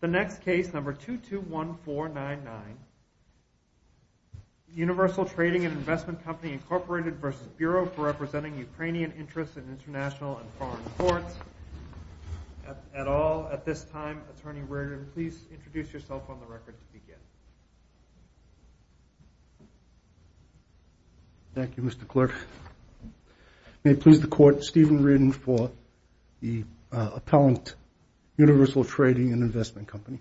The next case, number 221499, Universal Trading & Investment Company, Inc. v. Bureau for Representing Ukrainian Interests in International and Foreign Courts, et al., at this time, Attorney Reardon, please introduce yourself on the record to begin. Thank you, Mr. Clerk. May it please the Court, Stephen Reardon for the appellant, Universal Trading & Investment Company.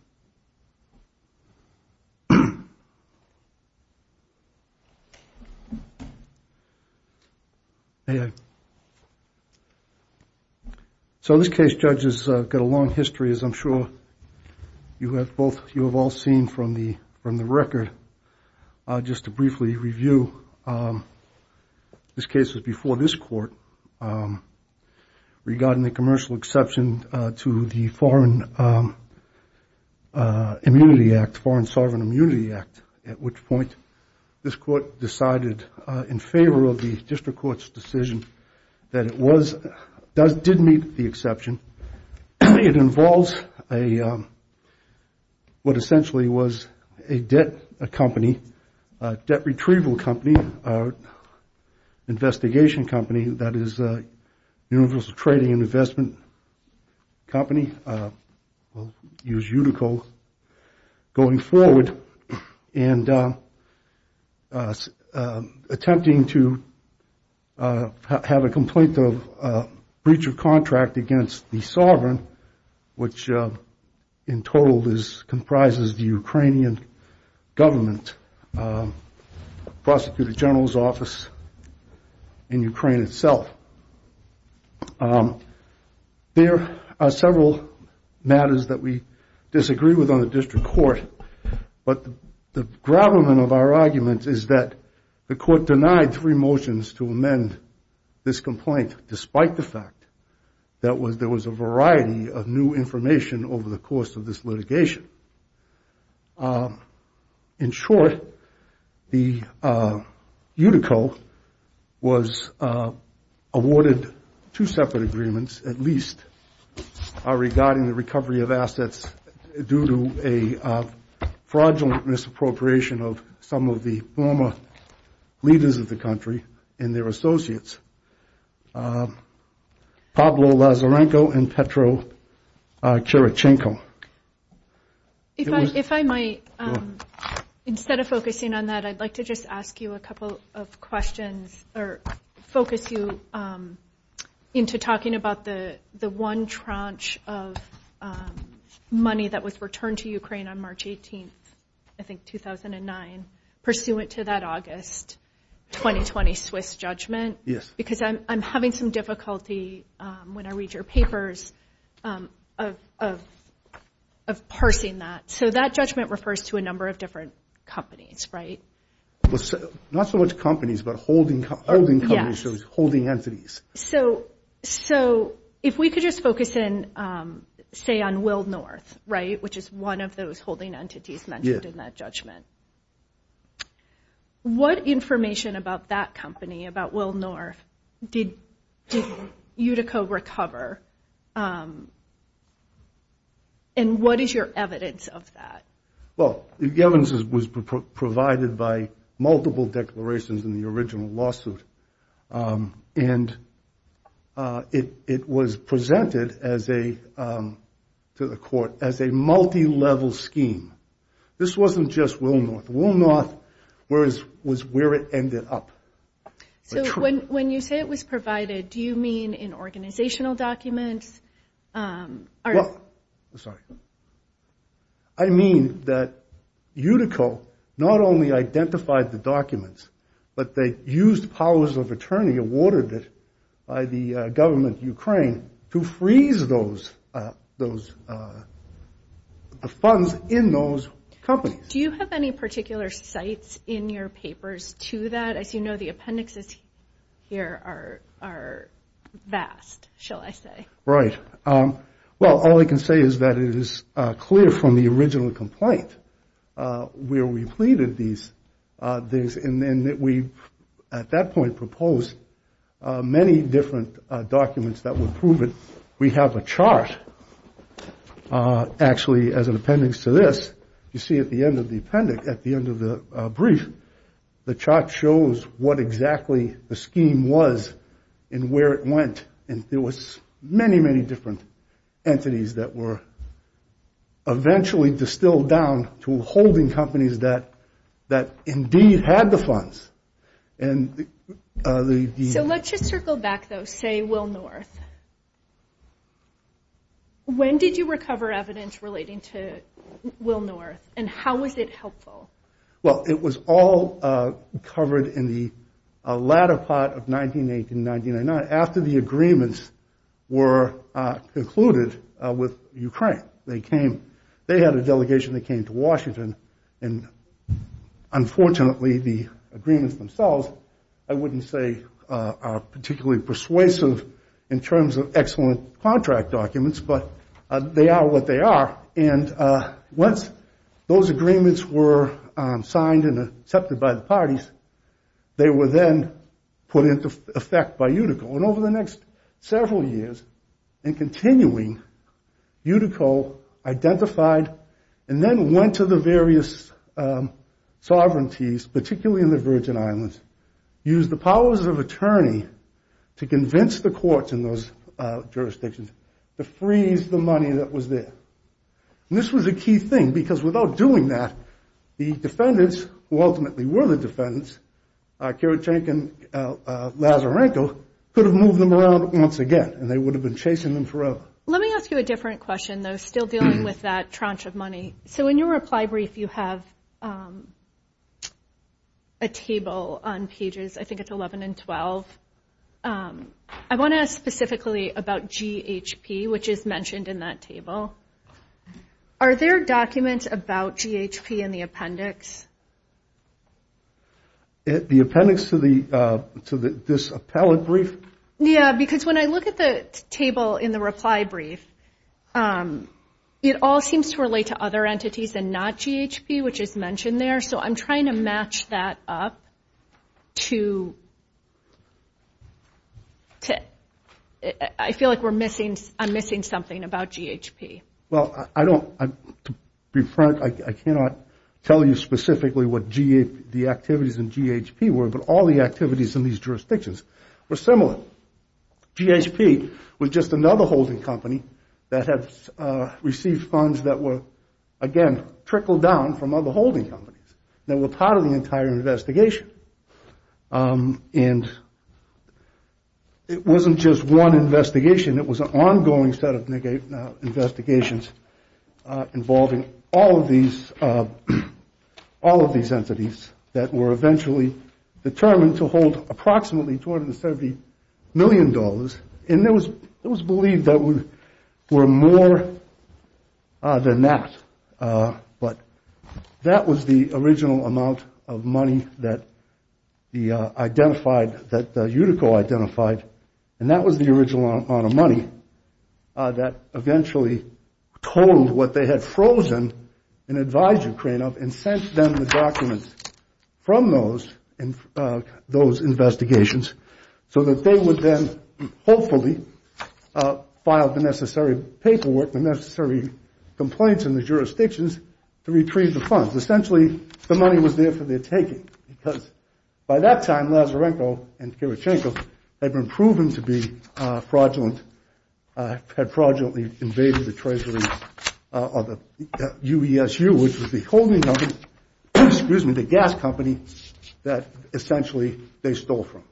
So this case, judges, has got a long history, as I'm sure you have all seen from the record. Just to briefly review, this case was before this Court regarding the commercial exception to the Foreign Immunity Act, Foreign Sovereign Immunity Act, at which point this Court decided in favor of the District Court's decision that it did meet the exception. It involves what essentially was a debt company, debt retrieval company, investigation company, that is Universal Trading & Investment Company, we'll use Utico, going forward and attempting to have a complaint of breach of contract against the sovereign, which in total comprises the Ukrainian government, prosecutor general's office in Ukraine itself. There are several matters that we disagree with on the District Court, but the gravamen of our argument is that the Court denied three motions to amend this complaint, despite the fact that there was a variety of new information over the course of this litigation. In short, Utico was awarded two separate agreements, at least, regarding the recovery of assets due to a fraudulent misappropriation of some of the former leaders of the country and their associates, Pablo Lazarenko and Petro Kirichenko. If I might, instead of focusing on that, I'd like to just ask you a couple of questions, or focus you into talking about the one tranche of money that was returned to Ukraine on March 18th, I think 2009, pursuant to that August 2020 Swiss judgment. Yes. Because I'm having some difficulty, when I read your papers, of parsing that. So that judgment refers to a number of different companies, right? Not so much companies, but holding companies. Yes. Holding entities. So if we could just focus in, say, on Will North, right, which is one of those holding entities mentioned in that judgment. Yeah. What information about that company, about Will North, did Utico recover, and what is your evidence of that? Well, the evidence was provided by multiple declarations in the original lawsuit, and it was presented to the court as a multi-level scheme. This wasn't just Will North. Will North was where it ended up. So when you say it was provided, do you mean in organizational documents? Sorry. I mean that Utico not only identified the documents, but they used powers of attorney awarded by the government of Ukraine to freeze those funds in those companies. Do you have any particular sites in your papers to that? As you know, the appendixes here are vast, shall I say. Right. Well, all I can say is that it is clear from the original complaint where we pleaded these things, and we at that point proposed many different documents that would prove it. We have a chart, actually, as an appendix to this. You see at the end of the appendix, at the end of the brief, the chart shows what exactly the scheme was and where it went. And there was many, many different entities that were eventually distilled down to holding companies that indeed had the funds. So let's just circle back, though, say Will North. When did you recover evidence relating to Will North, and how was it helpful? Well, it was all covered in the latter part of 1989 after the agreements were concluded with Ukraine. They had a delegation that came to Washington, and unfortunately the agreements themselves I wouldn't say are particularly persuasive in terms of excellent contract documents, but they are what they are. And once those agreements were signed and accepted by the parties, they were then put into effect by Utico. And over the next several years and continuing, Utico identified and then went to the various sovereignties, particularly in the Virgin Islands, used the powers of attorney to convince the courts in those jurisdictions to freeze the money that was there. And this was a key thing, because without doing that, the defendants, who ultimately were the defendants, Kirochenko and Lazarenko, could have moved them around once again, and they would have been chasing them forever. Let me ask you a different question, though, still dealing with that tranche of money. So in your reply brief you have a table on pages, I think it's 11 and 12. I want to ask specifically about GHP, which is mentioned in that table. Are there documents about GHP in the appendix? The appendix to this appellate brief? Yeah, because when I look at the table in the reply brief, it all seems to relate to other entities and not GHP, which is mentioned there. So I'm trying to match that up to ‑‑ I feel like I'm missing something about GHP. Well, I don't ‑‑ to be frank, I cannot tell you specifically what the activities in GHP were, but all the activities in these jurisdictions were similar. GHP was just another holding company that had received funds that were, again, trickled down from other holding companies that were part of the entire investigation. And it wasn't just one investigation, it was an ongoing set of investigations involving all of these entities that were eventually determined to hold approximately $270 million, and it was believed there were more than that. But that was the original amount of money that the identified, that Utico identified, and that was the original amount of money that eventually told what they had frozen and advised Ukraine of and sent them the documents from those investigations so that they would then hopefully file the necessary paperwork, the necessary complaints in the jurisdictions to retrieve the funds. Essentially, the money was there for their taking, because by that time, UESU, which was the holding company, excuse me, the gas company that essentially they stole from.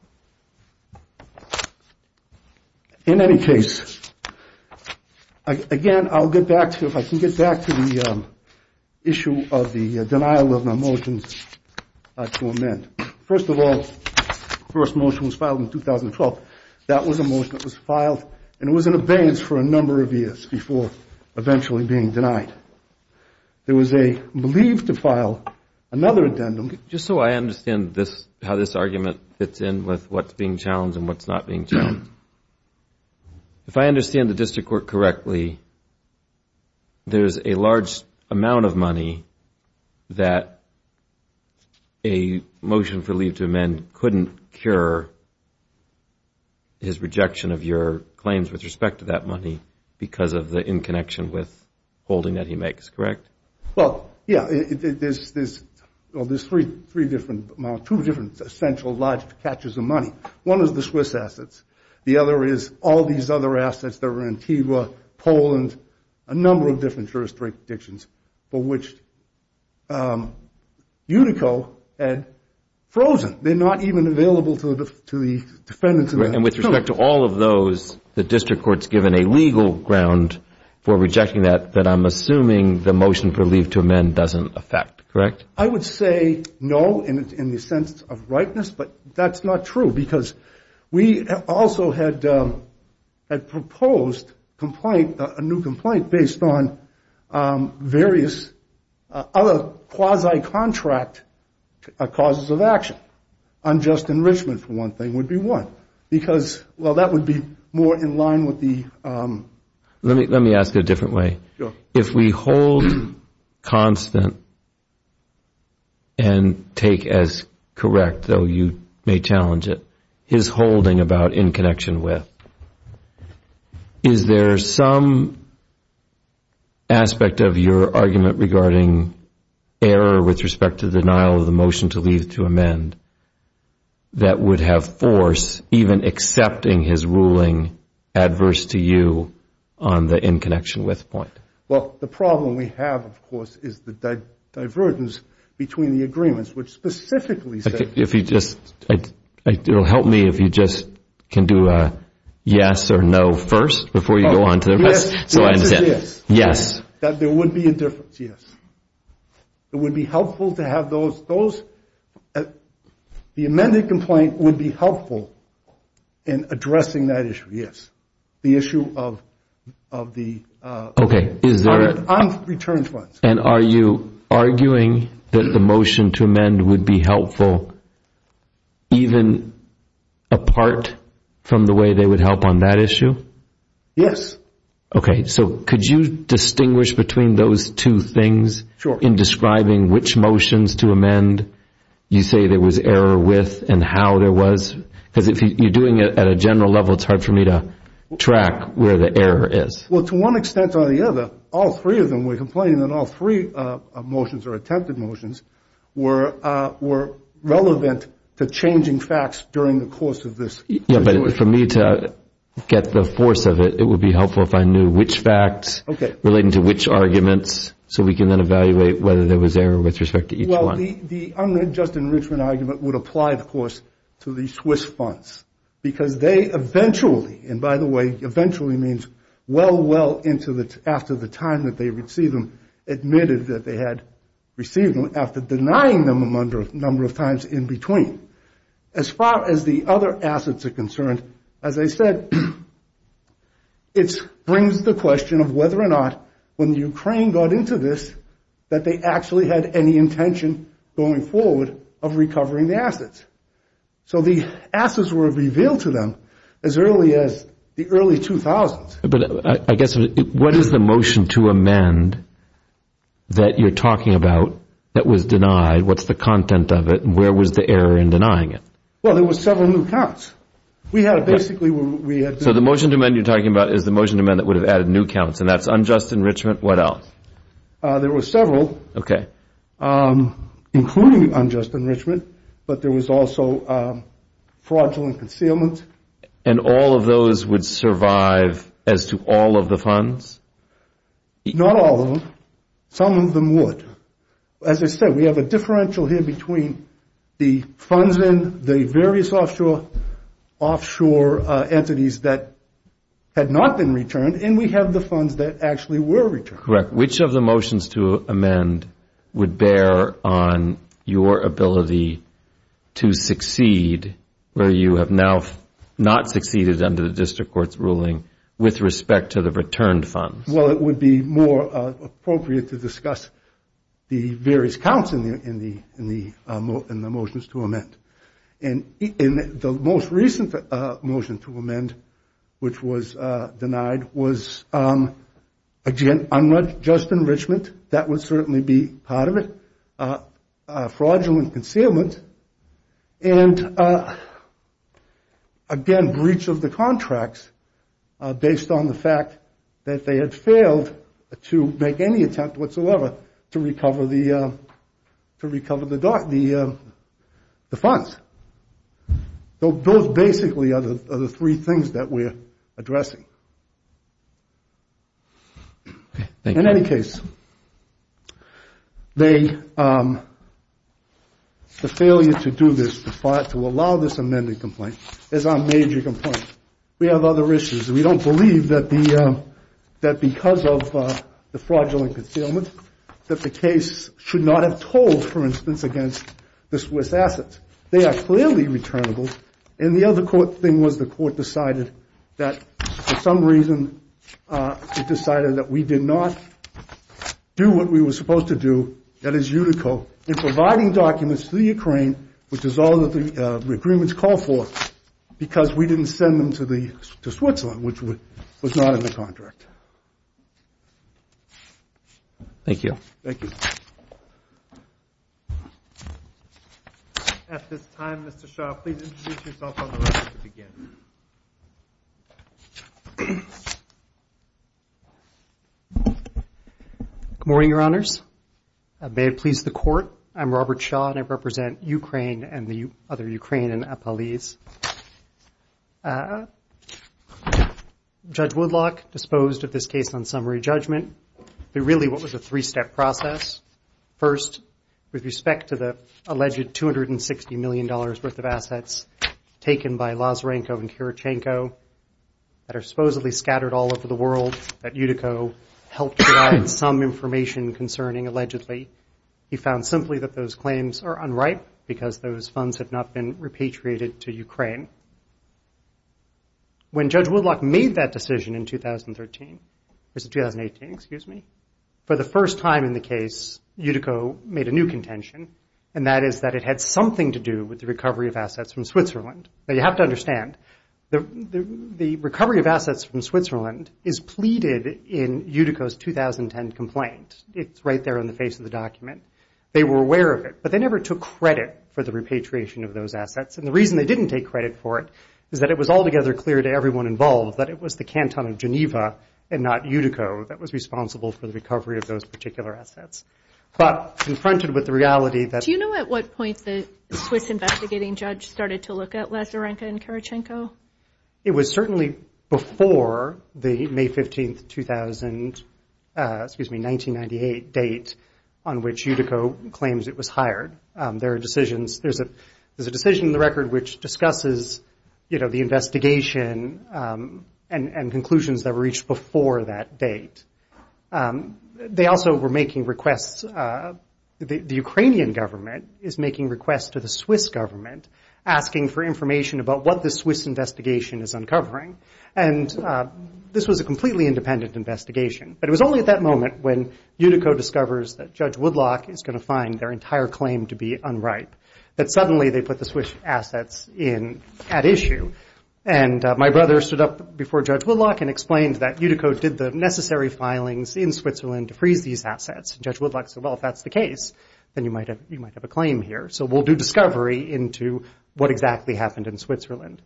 In any case, again, I'll get back to, if I can get back to the issue of the denial of the motions to amend. First of all, the first motion was filed in 2012. That was a motion that was filed, and it was in abeyance for a number of years before eventually being denied. There was a leave to file, another addendum. Just so I understand how this argument fits in with what's being challenged and what's not being challenged. If I understand the district court correctly, there's a large amount of money that a motion for leave to amend couldn't cure his rejection of your claims with respect to that money because of the in connection with holding that he makes, correct? Well, yeah, there's three different, two different essential large catches of money. One is the Swiss assets. The other is all these other assets that were in Tiwa, Poland, a number of different jurisdictions for which Utico had frozen. They're not even available to the defendants. And with respect to all of those, the district court's given a legal ground for rejecting that, but I'm assuming the motion for leave to amend doesn't affect, correct? I would say no in the sense of rightness, but that's not true, because we also had proposed a new complaint based on various other quasi-contract causes of action. Unjust enrichment, for one thing, would be one because, well, that would be more in line with the- Let me ask it a different way. If we hold constant and take as correct, though you may challenge it, his holding about in connection with, is there some aspect of your argument regarding error with respect to the denial of the motion to leave to amend that would have force even accepting his ruling adverse to you on the in connection with point? Well, the problem we have, of course, is the divergence between the agreements, which specifically- If you just- It'll help me if you just can do a yes or no first before you go on to the rest. Yes. Yes. That there would be a difference, yes. It would be helpful to have those- The amended complaint would be helpful in addressing that issue, yes. The issue of the- Okay, is there- On return funds. And are you arguing that the motion to amend would be helpful even apart from the way they would help on that issue? Yes. Okay. So could you distinguish between those two things in describing which motions to amend you say there was error with and how there was? Because if you're doing it at a general level, it's hard for me to track where the error is. Well, to one extent or the other, all three of them were complaining that all three motions or attempted motions were relevant to changing facts during the course of this situation. Yeah, but for me to get the force of it, it would be helpful if I knew which facts relating to which arguments so we can then evaluate whether there was error with respect to each one. Well, the unjust enrichment argument would apply, of course, to the Swiss funds. Because they eventually- And by the way, eventually means well, well after the time that they received them admitted that they had received them after denying them a number of times in between. As far as the other assets are concerned, as I said, it brings the question of whether or not when Ukraine got into this that they actually had any intention going forward of recovering the assets. So the assets were revealed to them as early as the early 2000s. But I guess what is the motion to amend that you're talking about that was denied? What's the content of it? Where was the error in denying it? Well, there were several new counts. We had basically- So the motion to amend you're talking about is the motion to amend that would have added new counts, and that's unjust enrichment, what else? There were several, including unjust enrichment, but there was also fraudulent concealment. And all of those would survive as to all of the funds? Not all of them. Some of them would. As I said, we have a differential here between the funds in the various offshore entities that had not been returned, and we have the funds that actually were returned. Correct. Which of the motions to amend would bear on your ability to succeed, whether you have now not succeeded under the district court's ruling, with respect to the returned funds? Well, it would be more appropriate to discuss the various counts in the motions to amend. And the most recent motion to amend, which was denied, was, again, unjust enrichment. That would certainly be part of it. Fraudulent concealment. And, again, breach of the contracts based on the fact that they had failed to make any attempt whatsoever to recover the funds. Those basically are the three things that we're addressing. Okay. Thank you. In any case, the failure to do this, to allow this amended complaint, is our major complaint. We have other issues. We don't believe that because of the fraudulent concealment that the case should not have told, for instance, against the Swiss assets. They are clearly returnable. And the other thing was the court decided that, for some reason, it decided that we did not do what we were supposed to do, that is, UNICO, in providing documents to the Ukraine, which is all that the agreements call for, because we didn't send them to Switzerland, which was not in the contract. Thank you. Thank you. At this time, Mr. Shaw, please introduce yourself on the record again. Good morning, Your Honors. May it please the Court, I'm Robert Shaw, and I represent Ukraine and the other Ukraine in Apalis. Judge Woodlock disposed of this case on summary judgment. It really was a three-step process. First, with respect to the alleged $260 million worth of assets taken by Lazarenko and Kurochenko that are supposedly scattered all over the world that UNICO helped provide some information concerning, allegedly. He found simply that those claims are unripe because those funds have not been repatriated to Ukraine. When Judge Woodlock made that decision in 2013, or 2018, excuse me, for the first time in the case, UNICO made a new contention, and that is that it had something to do with the recovery of assets from Switzerland. Now, you have to understand, the recovery of assets from Switzerland is pleaded in UNICO's 2010 complaint. It's right there on the face of the document. They were aware of it, but they never took credit for the repatriation of those assets. And the reason they didn't take credit for it is that it was altogether clear to everyone involved that it was the canton of Geneva and not UNICO that was responsible for the recovery of those particular assets. But confronted with the reality that- Do you know at what point the Swiss investigating judge started to look at Lazarenko and Kurochenko? It was certainly before the May 15, 2000, excuse me, 1998 date on which UNICO claims it was hired. There are decisions, there's a decision in the record which discusses, you know, the investigation and conclusions that were reached before that date. They also were making requests, the Ukrainian government is making requests to the Swiss government, asking for information about what the Swiss investigation is uncovering. And this was a completely independent investigation. But it was only at that moment when UNICO discovers that Judge Woodlock is going to find their entire claim to be unripe that suddenly they put the Swiss assets in at issue. And my brother stood up before Judge Woodlock and explained that UNICO did the necessary filings in Switzerland to freeze these assets. And Judge Woodlock said, well, if that's the case, then you might have a claim here. So we'll do discovery into what exactly happened in Switzerland.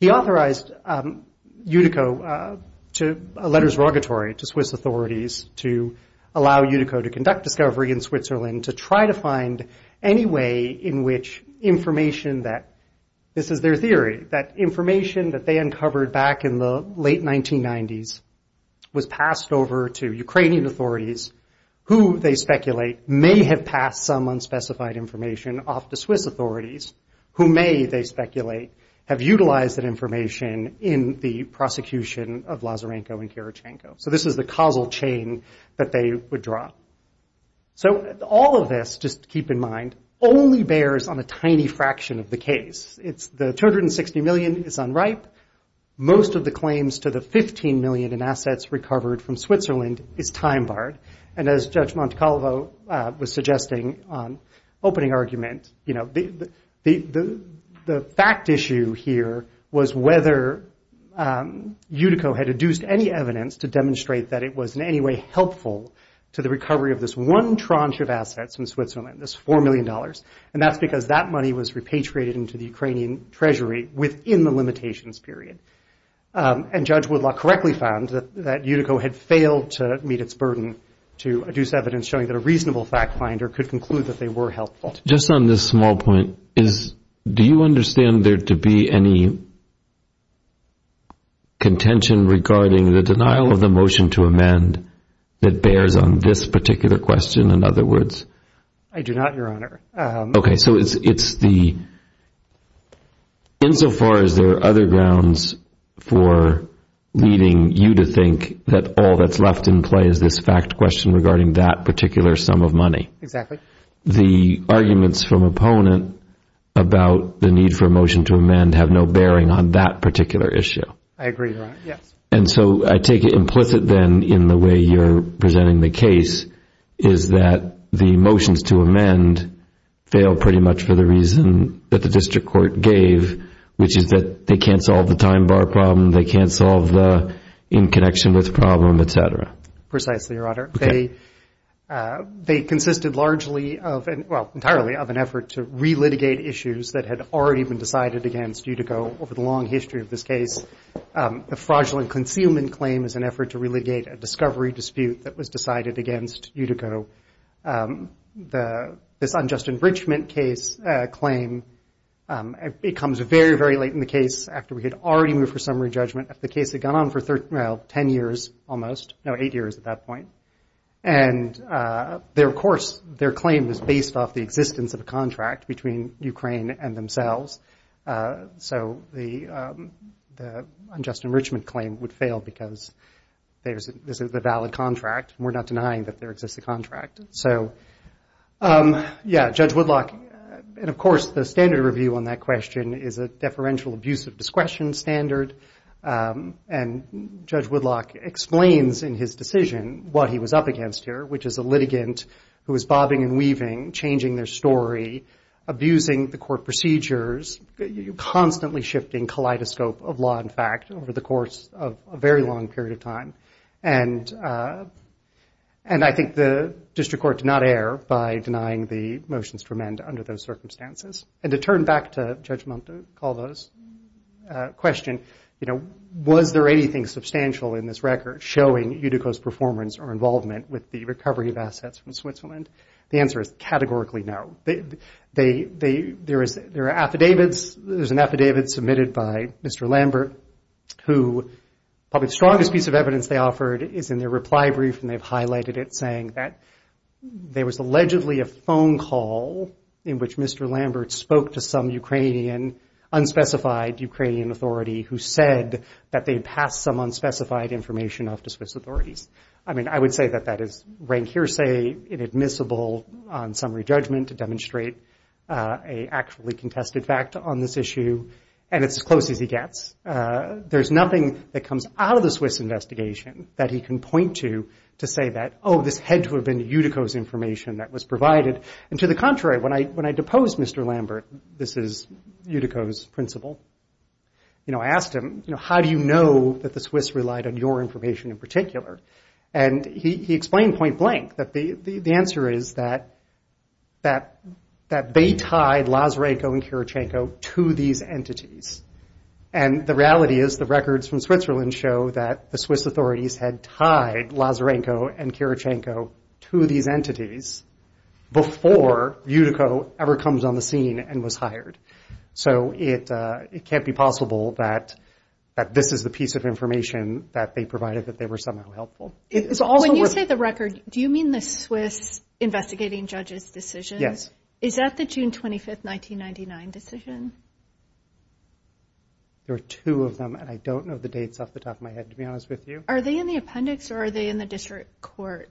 He authorized UNICO to a letter of surrogacy to Swiss authorities to allow UNICO to conduct discovery in Switzerland to try to find any way in which information that, this is their theory, that information that they uncovered back in the late 1990s was passed over to Ukrainian authorities, who they speculate may have passed some unspecified information off to Swiss authorities, who may, they speculate, have utilized that information in the prosecution of Lazarenko and Karachenko. So this is the causal chain that they would draw. So all of this, just keep in mind, only bears on a tiny fraction of the case. The $260 million is unripe. Most of the claims to the $15 million in assets recovered from Switzerland is time-barred. And as Judge Montecalvo was suggesting on opening argument, the fact issue here was whether UNICO had adduced any evidence to demonstrate that it was in any way helpful to the recovery of this one tranche of assets in Switzerland, this $4 million. And that's because that money was repatriated into the Ukrainian treasury within the limitations period. And Judge Woodlock correctly found that UNICO had failed to meet its burden to adduce evidence showing that a reasonable fact finder could conclude that they were helpful. Just on this small point, do you understand there to be any contention regarding the denial of the motion to amend that bears on this particular question, in other words? I do not, Your Honor. Okay, so it's the – insofar as there are other grounds for leading you to think that all that's left in play is this fact question regarding that particular sum of money. Exactly. The arguments from opponent about the need for a motion to amend have no bearing on that particular issue. I agree, Your Honor, yes. And so I take it implicit then in the way you're presenting the case is that the motions to amend fail pretty much for the reason that the district court gave, which is that they can't solve the time bar problem, they can't solve the in connection with problem, et cetera. Precisely, Your Honor. Okay. They consisted largely of – well, entirely of an effort to re-litigate issues that had already been decided against Utico over the long history of this case. The fraudulent concealment claim is an effort to re-litigate a discovery dispute that was decided against Utico. This unjust enrichment case claim, it comes very, very late in the case after we had already moved for summary judgment. The case had gone on for 10 years almost – no, eight years at that point. And of course, their claim is based off the existence of a contract between Ukraine and themselves. So the unjust enrichment claim would fail because this is a valid contract. We're not denying that there exists a contract. So, yeah, Judge Woodlock – and of course, the standard review on that question is a deferential abuse of discretion standard. And Judge Woodlock explains in his decision what he was up against here, which is a litigant who was bobbing and weaving, changing their story, abusing the court procedures, constantly shifting kaleidoscope of law and fact over the course of a very long period of time. And I think the district court did not err by denying the motions to amend under those circumstances. And to turn back to Judge Montecaldo's question, you know, was there anything substantial in this record showing Utico's performance or involvement with the recovery of assets from Switzerland? The answer is categorically no. There are affidavits. There's an affidavit submitted by Mr. Lambert, who probably the strongest piece of evidence they offered is in their reply brief, and they've highlighted it saying that there was allegedly a phone call in which Mr. Lambert spoke to some Ukrainian, unspecified Ukrainian authority who said that they had passed some unspecified information off to Swiss authorities. I mean, I would say that that is rank hearsay, inadmissible on summary judgment to demonstrate a actually contested fact on this issue. And it's as close as he gets. There's nothing that comes out of the Swiss investigation that he can point to to say that, oh, this had to have been Utico's information that was provided. And to the contrary, when I deposed Mr. Lambert, this is Utico's principle, you know, I asked him, you know, how do you know that the Swiss relied on your information in particular? And he explained point blank that the answer is that they tied Lazarenko and Kirichenko to these entities. And the reality is the records from Switzerland show that the Swiss authorities had tied Lazarenko and Kirichenko to these entities before Utico ever comes on the scene and was hired. So it can't be possible that this is the piece of information that they provided that they were somehow helpful. When you say the record, do you mean the Swiss investigating judge's decision? Yes. Is that the June 25th, 1999 decision? There are two of them, and I don't know the dates off the top of my head, to be honest with you. Are they in the appendix or are they in the district court?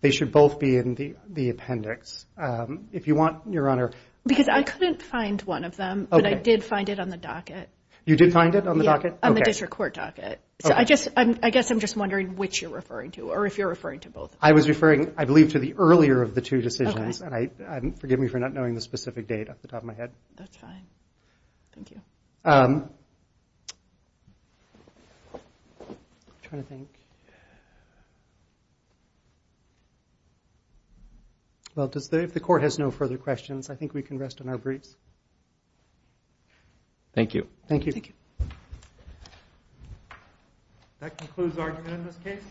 They should both be in the appendix. Because I couldn't find one of them, but I did find it on the docket. You did find it on the docket? Yeah, on the district court docket. So I guess I'm just wondering which you're referring to or if you're referring to both. I was referring, I believe, to the earlier of the two decisions. And forgive me for not knowing the specific date off the top of my head. That's fine. Thank you. I'm trying to think. Well, if the court has no further questions, I think we can rest on our briefs. Thank you. Thank you. Thank you. That concludes our time in this case.